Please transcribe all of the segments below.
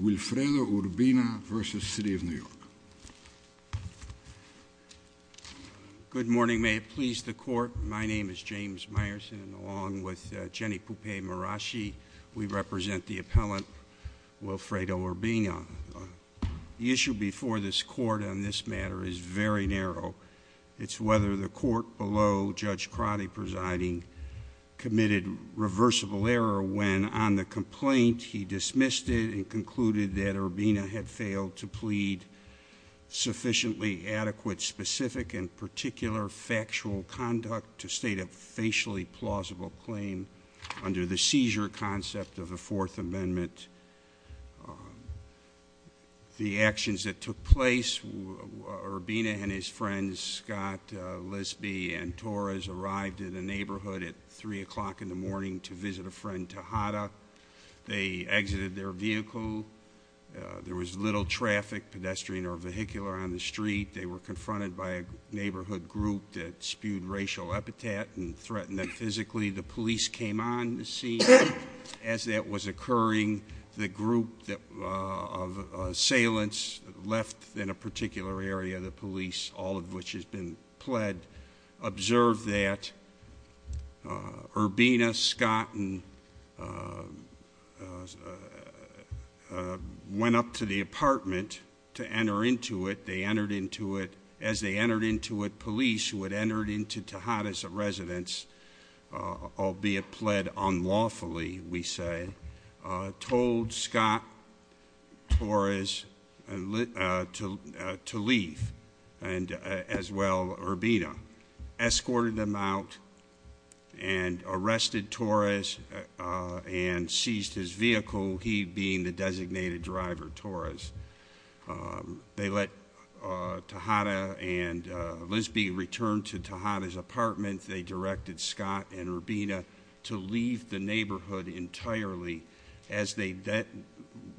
Wilfredo Urbina v. City Of New York Good morning, may it please the court. My name is James Meyerson, along with Jenny Poupey-Mirashi. We represent the appellant, Wilfredo Urbina. The issue before this court on this matter is very narrow. It's whether the court below Judge Crotty presiding committed reversible error when on the complaint he dismissed it and concluded that Urbina had failed to plead sufficiently adequate, specific, and particular factual conduct to state a facially plausible claim under the seizure concept of the Fourth Amendment. The actions that took place, Urbina and his friends, Scott Lisby and Torres, arrived in a neighborhood at 3 o'clock in the morning to visit a friend, Tejada. They exited their vehicle. There was little traffic, pedestrian or vehicular, on the street. They were confronted by a neighborhood group that spewed racial epithet and threatened them physically. The police came on the scene. As that was occurring, the group of assailants left in a particular area, all of which has been pled, observed that. Urbina, Scott, and went up to the apartment to enter into it. They entered into it. As they entered into it, police who had entered into Tejada's residence, albeit pled unlawfully, we say, told Scott, Torres, to leave, as well Urbina, escorted them out and arrested Torres and seized his vehicle, he being the designated driver, Torres. They let Tejada and Lisby return to Tejada's apartment. They directed Scott and Urbina to leave the neighborhood entirely. As they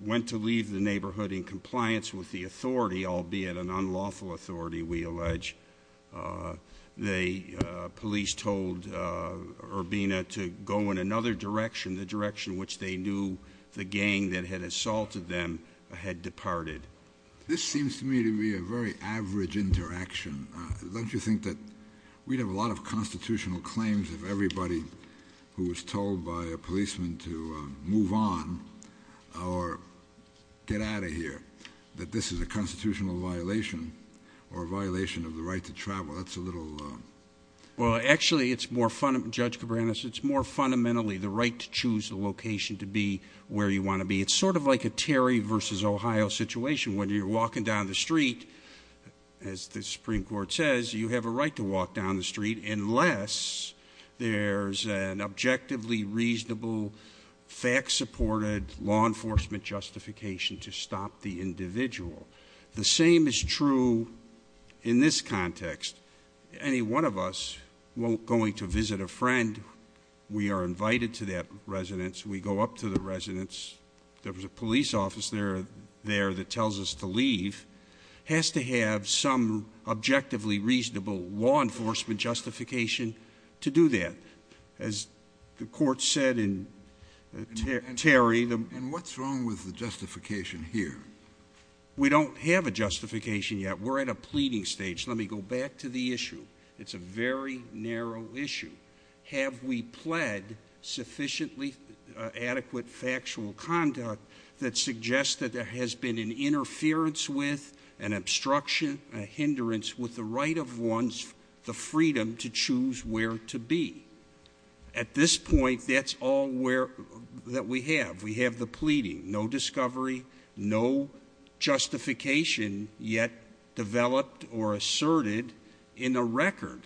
went to leave the neighborhood in compliance with the authority, albeit an unlawful authority, we allege, the police told Urbina to go in another direction, the direction which they knew the gang that had assaulted them had departed. This seems to me to be a very average interaction. Don't you think that we'd have a lot of constitutional claims if everybody who was told by a policeman to move on or get out of here, that this is a constitutional violation or a violation of the right to travel. That's a little. Well, actually, it's more, Judge Cabreras, it's more fundamentally the right to choose the location to be where you want to be. It's sort of like a Terry versus Ohio situation. When you're walking down the street, as the Supreme Court says, you have a right to walk down the street unless there's an objectively reasonable, fact-supported law enforcement justification to stop the individual. The same is true in this context. Any one of us, going to visit a friend, we are invited to that residence. We go up to the residence. There was a police officer there that tells us to leave. Has to have some objectively reasonable law enforcement justification to do that. As the court said in Terry. And what's wrong with the justification here? We don't have a justification yet. We're at a pleading stage. Let me go back to the issue. It's a very narrow issue. Have we pled sufficiently adequate factual conduct that suggests that there has been an interference with, an obstruction, a hindrance with the right of one's freedom to choose where to be. At this point, that's all that we have. We have the pleading. No discovery. No justification yet developed or asserted in a record.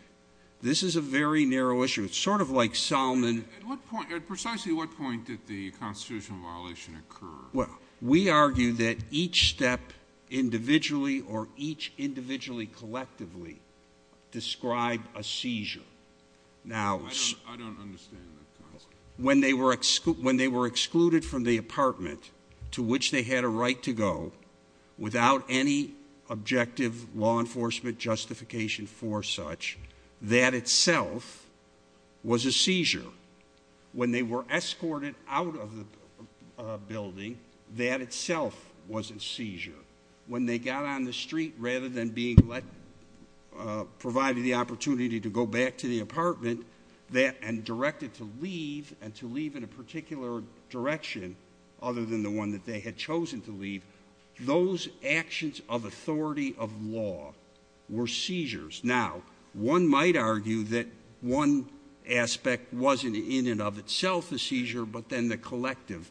This is a very narrow issue. It's sort of like Solomon. At what point, at precisely what point did the constitutional violation occur? Well, we argue that each step individually or each individually collectively described a seizure. Now. I don't understand that concept. When they were excluded from the apartment to which they had a right to go without any objective law enforcement justification for such, that itself was a seizure. When they were escorted out of the building, that itself was a seizure. When they got on the street, rather than being provided the opportunity to go back to the apartment and directed to leave, and to leave in a particular direction other than the one that they had chosen to leave, those actions of authority of law were seizures. Now, one might argue that one aspect wasn't in and of itself a seizure, but then the collective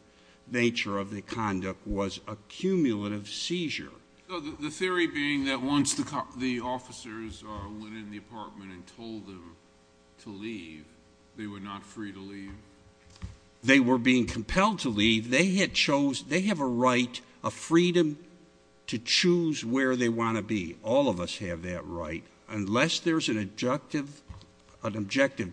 nature of the conduct was a cumulative seizure. The theory being that once the officers went in the apartment and told them to leave, they were not free to leave? They were being compelled to leave. They had chosen, they have a right, a freedom to choose where they want to be. All of us have that right. Unless there's an objective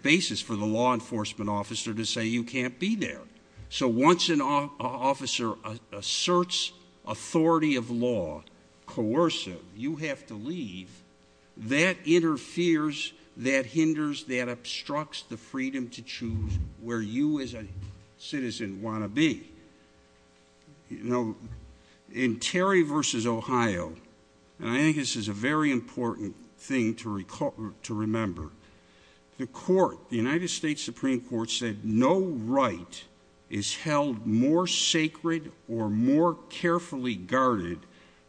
basis for the law enforcement officer to say you can't be there. So once an officer asserts authority of law, coercive, you have to leave, that interferes, that hinders, that obstructs the freedom to choose where you as a citizen want to be. Now, in Terry v. Ohio, and I think this is a very important thing to remember, the court, the United States Supreme Court said no right is held more sacred or more carefully guarded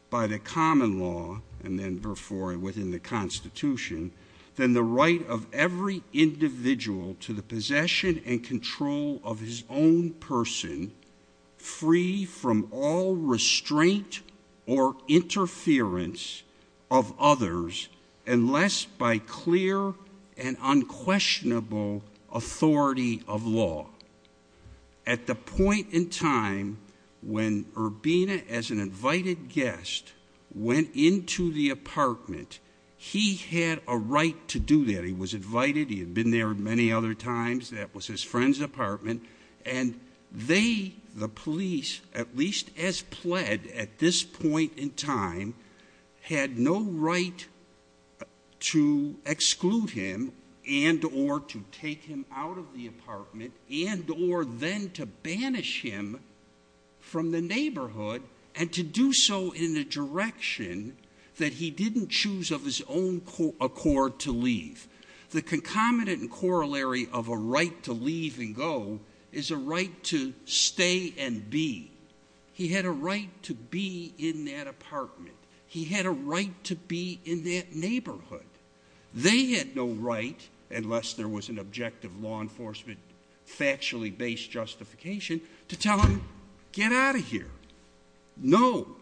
by the common law, and then before and within the Constitution, than the right of every individual to the possession and control of his own person, free from all restraint or interference of others, unless by clear and unquestionable authority of law. At the point in time when Urbina, as an invited guest, went into the apartment, he had a right to do that. He was invited. He had been there many other times. That was his friend's apartment. And they, the police, at least as pled at this point in time, had no right to exclude him and or to take him out of the apartment and or then to banish him from the neighborhood and to do so in a direction that he didn't choose of his own accord to leave. The concomitant and corollary of a right to leave and go is a right to stay and be. He had a right to be in that apartment. He had a right to be in that neighborhood. They had no right, unless there was an objective law enforcement factually-based justification, to tell him, get out of here. No.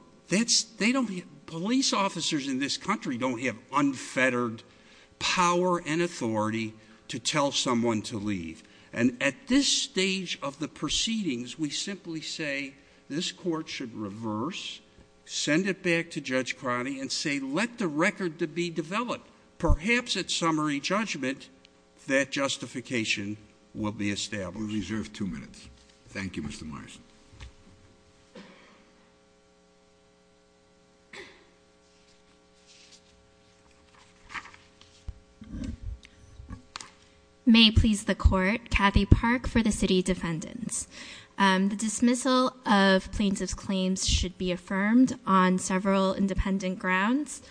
Police officers in this country don't have unfettered power and authority to tell someone to leave. And at this stage of the proceedings, we simply say this court should reverse, send it back to Judge Cronin and say, let the record be developed. Perhaps at summary judgment that justification will be established. We reserve two minutes. Thank you, Mr. Morrison. May it please the court, Kathy Park for the city defendants. The dismissal of plaintiff's claims should be affirmed on several independent grounds.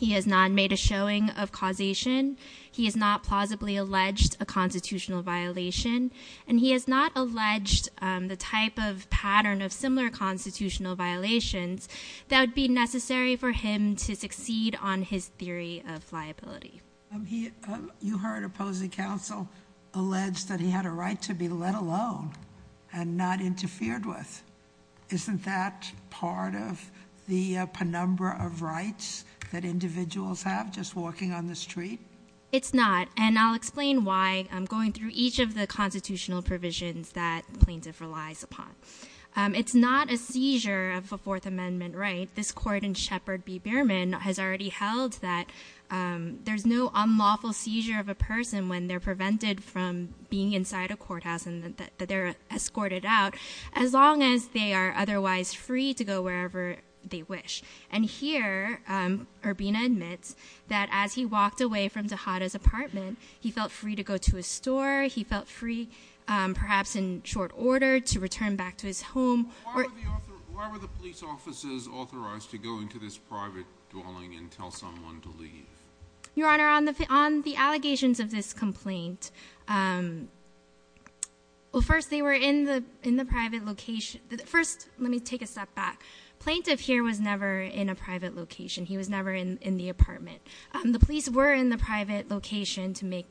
He has not made a showing of causation. He has not plausibly alleged a constitutional violation. And he has not alleged the type of pattern of similar constitutional violations that would be necessary for him to succeed on his theory of liability. You heard opposing counsel allege that he had a right to be let alone and not interfered with. Isn't that part of the penumbra of rights that individuals have just walking on the street? It's not. And I'll explain why I'm going through each of the constitutional provisions that the plaintiff relies upon. It's not a seizure of a Fourth Amendment right. This court in Sheppard v. Beerman has already held that there's no unlawful seizure of a person when they're prevented from being inside a courthouse and that they're escorted out, as long as they are otherwise free to go wherever they wish. And here, Urbina admits that as he walked away from Tejada's apartment, he felt free to go to a store. He felt free, perhaps in short order, to return back to his home. Why were the police officers authorized to go into this private dwelling and tell someone to leave? Your Honor, on the allegations of this complaint, well, first, they were in the private location. First, let me take a step back. Plaintiff here was never in a private location. He was never in the apartment. The police were in the private location to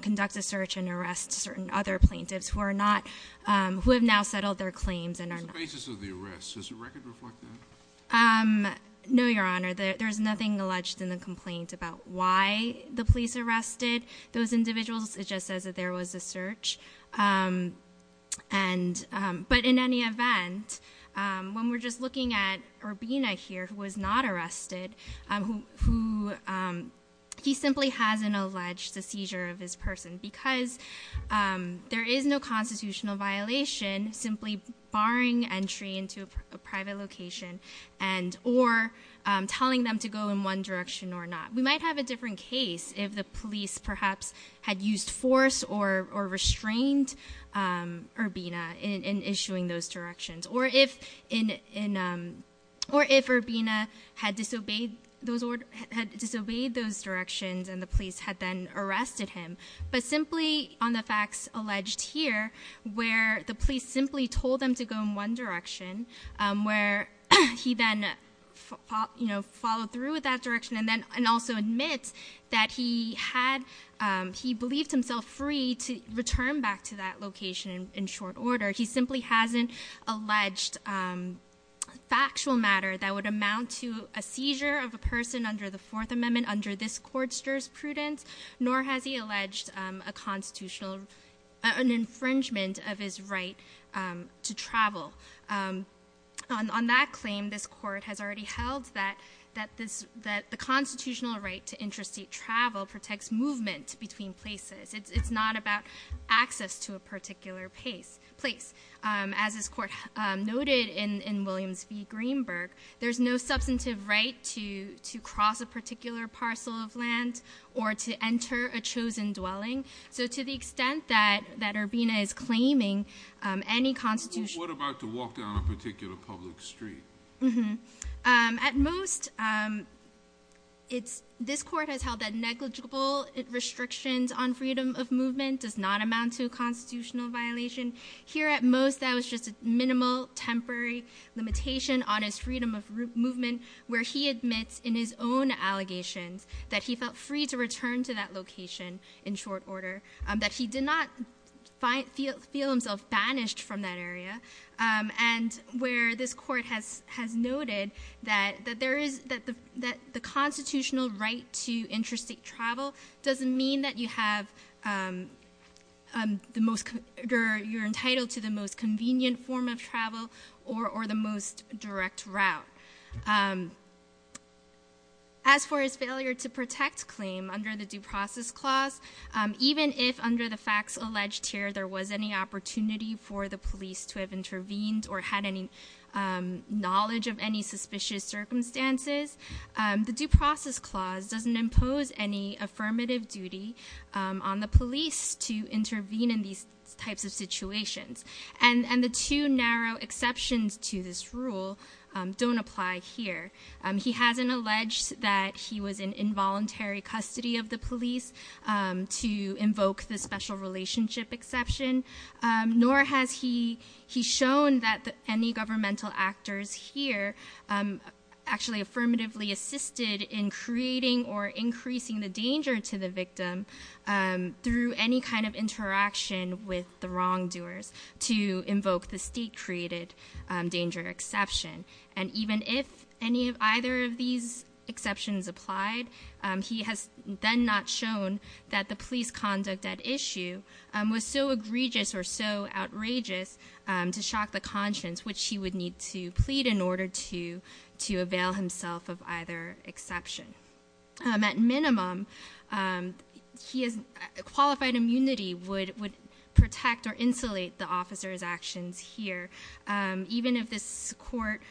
conduct a search and arrest certain other plaintiffs who have now settled their claims and are not- It's the basis of the arrest. Does the record reflect that? No, Your Honor. There's nothing alleged in the complaint about why the police arrested those individuals. It just says that there was a search. But in any event, when we're just looking at Urbina here, who was not arrested, he simply hasn't alleged the seizure of his person because there is no constitutional violation simply barring entry into a private location or telling them to go in one direction or not. We might have a different case if the police perhaps had used force or restrained Urbina in issuing those directions or if Urbina had disobeyed those directions and the police had then arrested him. But simply on the facts alleged here, where the police simply told him to go in one direction, where he then followed through with that direction and also admits that he had- he believed himself free to return back to that location in short order. He simply hasn't alleged factual matter that would amount to a seizure of a person under the Fourth Amendment under this court's jurisprudence, nor has he alleged a constitutional- an infringement of his right to travel. On that claim, this court has already held that the constitutional right to interstate travel protects movement between places. It's not about access to a particular place. As this court noted in Williams v. Greenberg, there's no substantive right to cross a particular parcel of land or to enter a chosen dwelling. So to the extent that Urbina is claiming any constitutional- But what about to walk down a particular public street? At most, this court has held that negligible restrictions on freedom of movement does not amount to a constitutional violation. Here at most, that was just a minimal, temporary limitation on his freedom of movement, where he admits in his own allegations that he felt free to return to that location in short order, that he did not feel himself banished from that area, and where this court has noted that the constitutional right to interstate travel doesn't mean that you're entitled to the most convenient form of travel or the most direct route. As for his failure to protect claim under the Due Process Clause, even if under the facts alleged here there was any opportunity for the police to have intervened or had any knowledge of any suspicious circumstances, the Due Process Clause doesn't impose any affirmative duty on the police to intervene in these types of situations. And the two narrow exceptions to this rule don't apply here. He hasn't alleged that he was in involuntary custody of the police to invoke the special relationship exception, nor has he shown that any governmental actors here actually affirmatively assisted in creating or increasing the danger to the victim through any kind of interaction with the wrongdoers to invoke the state-created danger exception. And even if either of these exceptions applied, he has then not shown that the police conduct at issue was so egregious or so outrageous to shock the conscience, which he would need to plead in order to avail himself of either exception. At minimum, qualified immunity would protect or insulate the officer's actions here. Even if this court,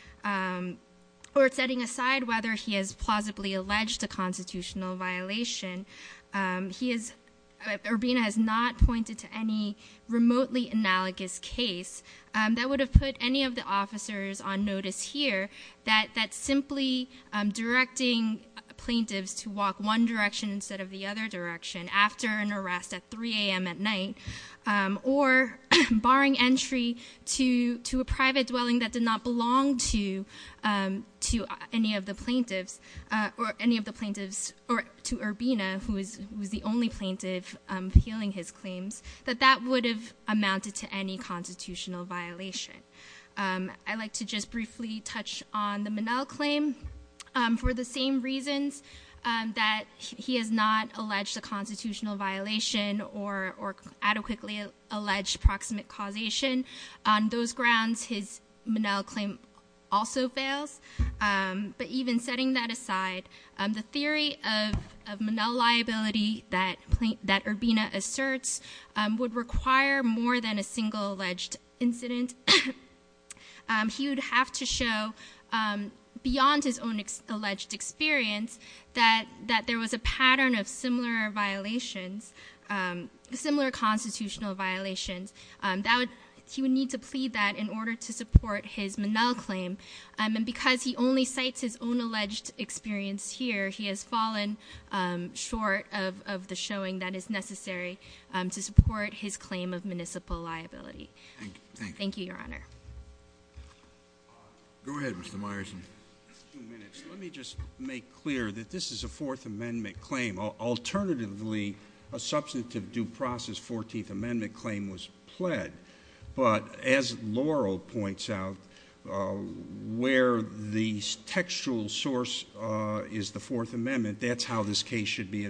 or setting aside whether he has plausibly alleged a constitutional violation, Urbina has not pointed to any remotely analogous case that would have put any of the officers on notice here that simply directing plaintiffs to walk one direction instead of the other direction after an arrest at 3 a.m. at night or barring entry to a private dwelling that did not belong to any of the plaintiffs, or to Urbina, who was the only plaintiff appealing his claims, that that would have amounted to any constitutional violation. I'd like to just briefly touch on the Minnell claim for the same reasons that he has not alleged a constitutional violation or adequately alleged proximate causation. On those grounds, his Minnell claim also fails. But even setting that aside, the theory of Minnell liability that Urbina asserts would require more than a single alleged incident. He would have to show, beyond his own alleged experience, that there was a pattern of similar violations, similar constitutional violations. He would need to plead that in order to support his Minnell claim. And because he only cites his own alleged experience here, he has fallen short of the showing that is necessary to support his claim of municipal liability. Thank you, Your Honor. Go ahead, Mr. Myerson. Let me just make clear that this is a Fourth Amendment claim. Alternatively, a substantive due process Fourteenth Amendment claim was pled. But as Laurel points out, where the textual source is the Fourth Amendment, that's how this case should be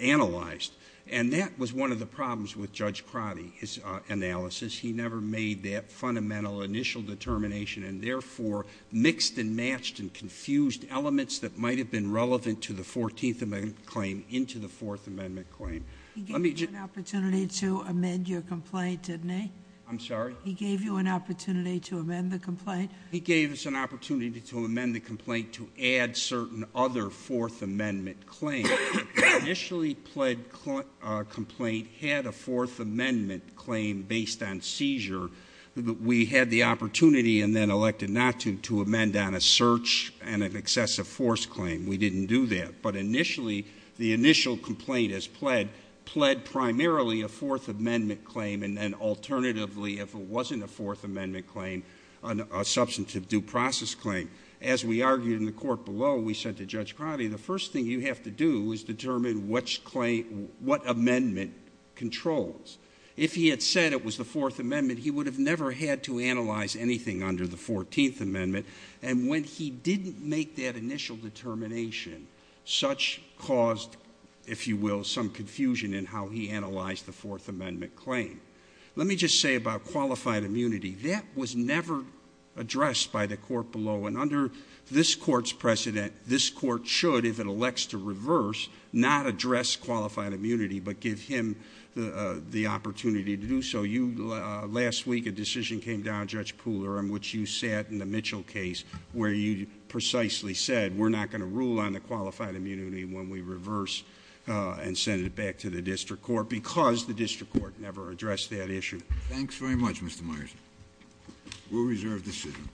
analyzed. And that was one of the problems with Judge Crotty, his analysis. He never made that fundamental initial determination, and therefore mixed and matched and confused elements that might have been relevant to the Fourteenth Amendment claim into the Fourth Amendment claim. He gave you an opportunity to amend your complaint, didn't he? I'm sorry? He gave you an opportunity to amend the complaint? He gave us an opportunity to amend the complaint to add certain other Fourth Amendment claims. The initially pled complaint had a Fourth Amendment claim based on seizure. We had the opportunity and then elected not to, to amend on a search and an excessive force claim. We didn't do that. But initially, the initial complaint as pled, pled primarily a Fourth Amendment claim, and then alternatively, if it wasn't a Fourth Amendment claim, a substantive due process claim. As we argued in the court below, we said to Judge Crotty, the first thing you have to do is determine which claim, what amendment controls. If he had said it was the Fourth Amendment, he would have never had to analyze anything under the Fourteenth Amendment. And when he didn't make that initial determination, such caused, if you will, some confusion in how he analyzed the Fourth Amendment claim. Let me just say about qualified immunity, that was never addressed by the court below. And under this court's precedent, this court should, if it elects to reverse, not address qualified immunity, but give him the opportunity to do so. Last week, a decision came down, Judge Pooler, in which you sat in the Mitchell case where you precisely said, we're not going to rule on the qualified immunity when we reverse and send it back to the district court, because the district court never addressed that issue. And thanks very much, Mr. Myers. We'll reserve this session.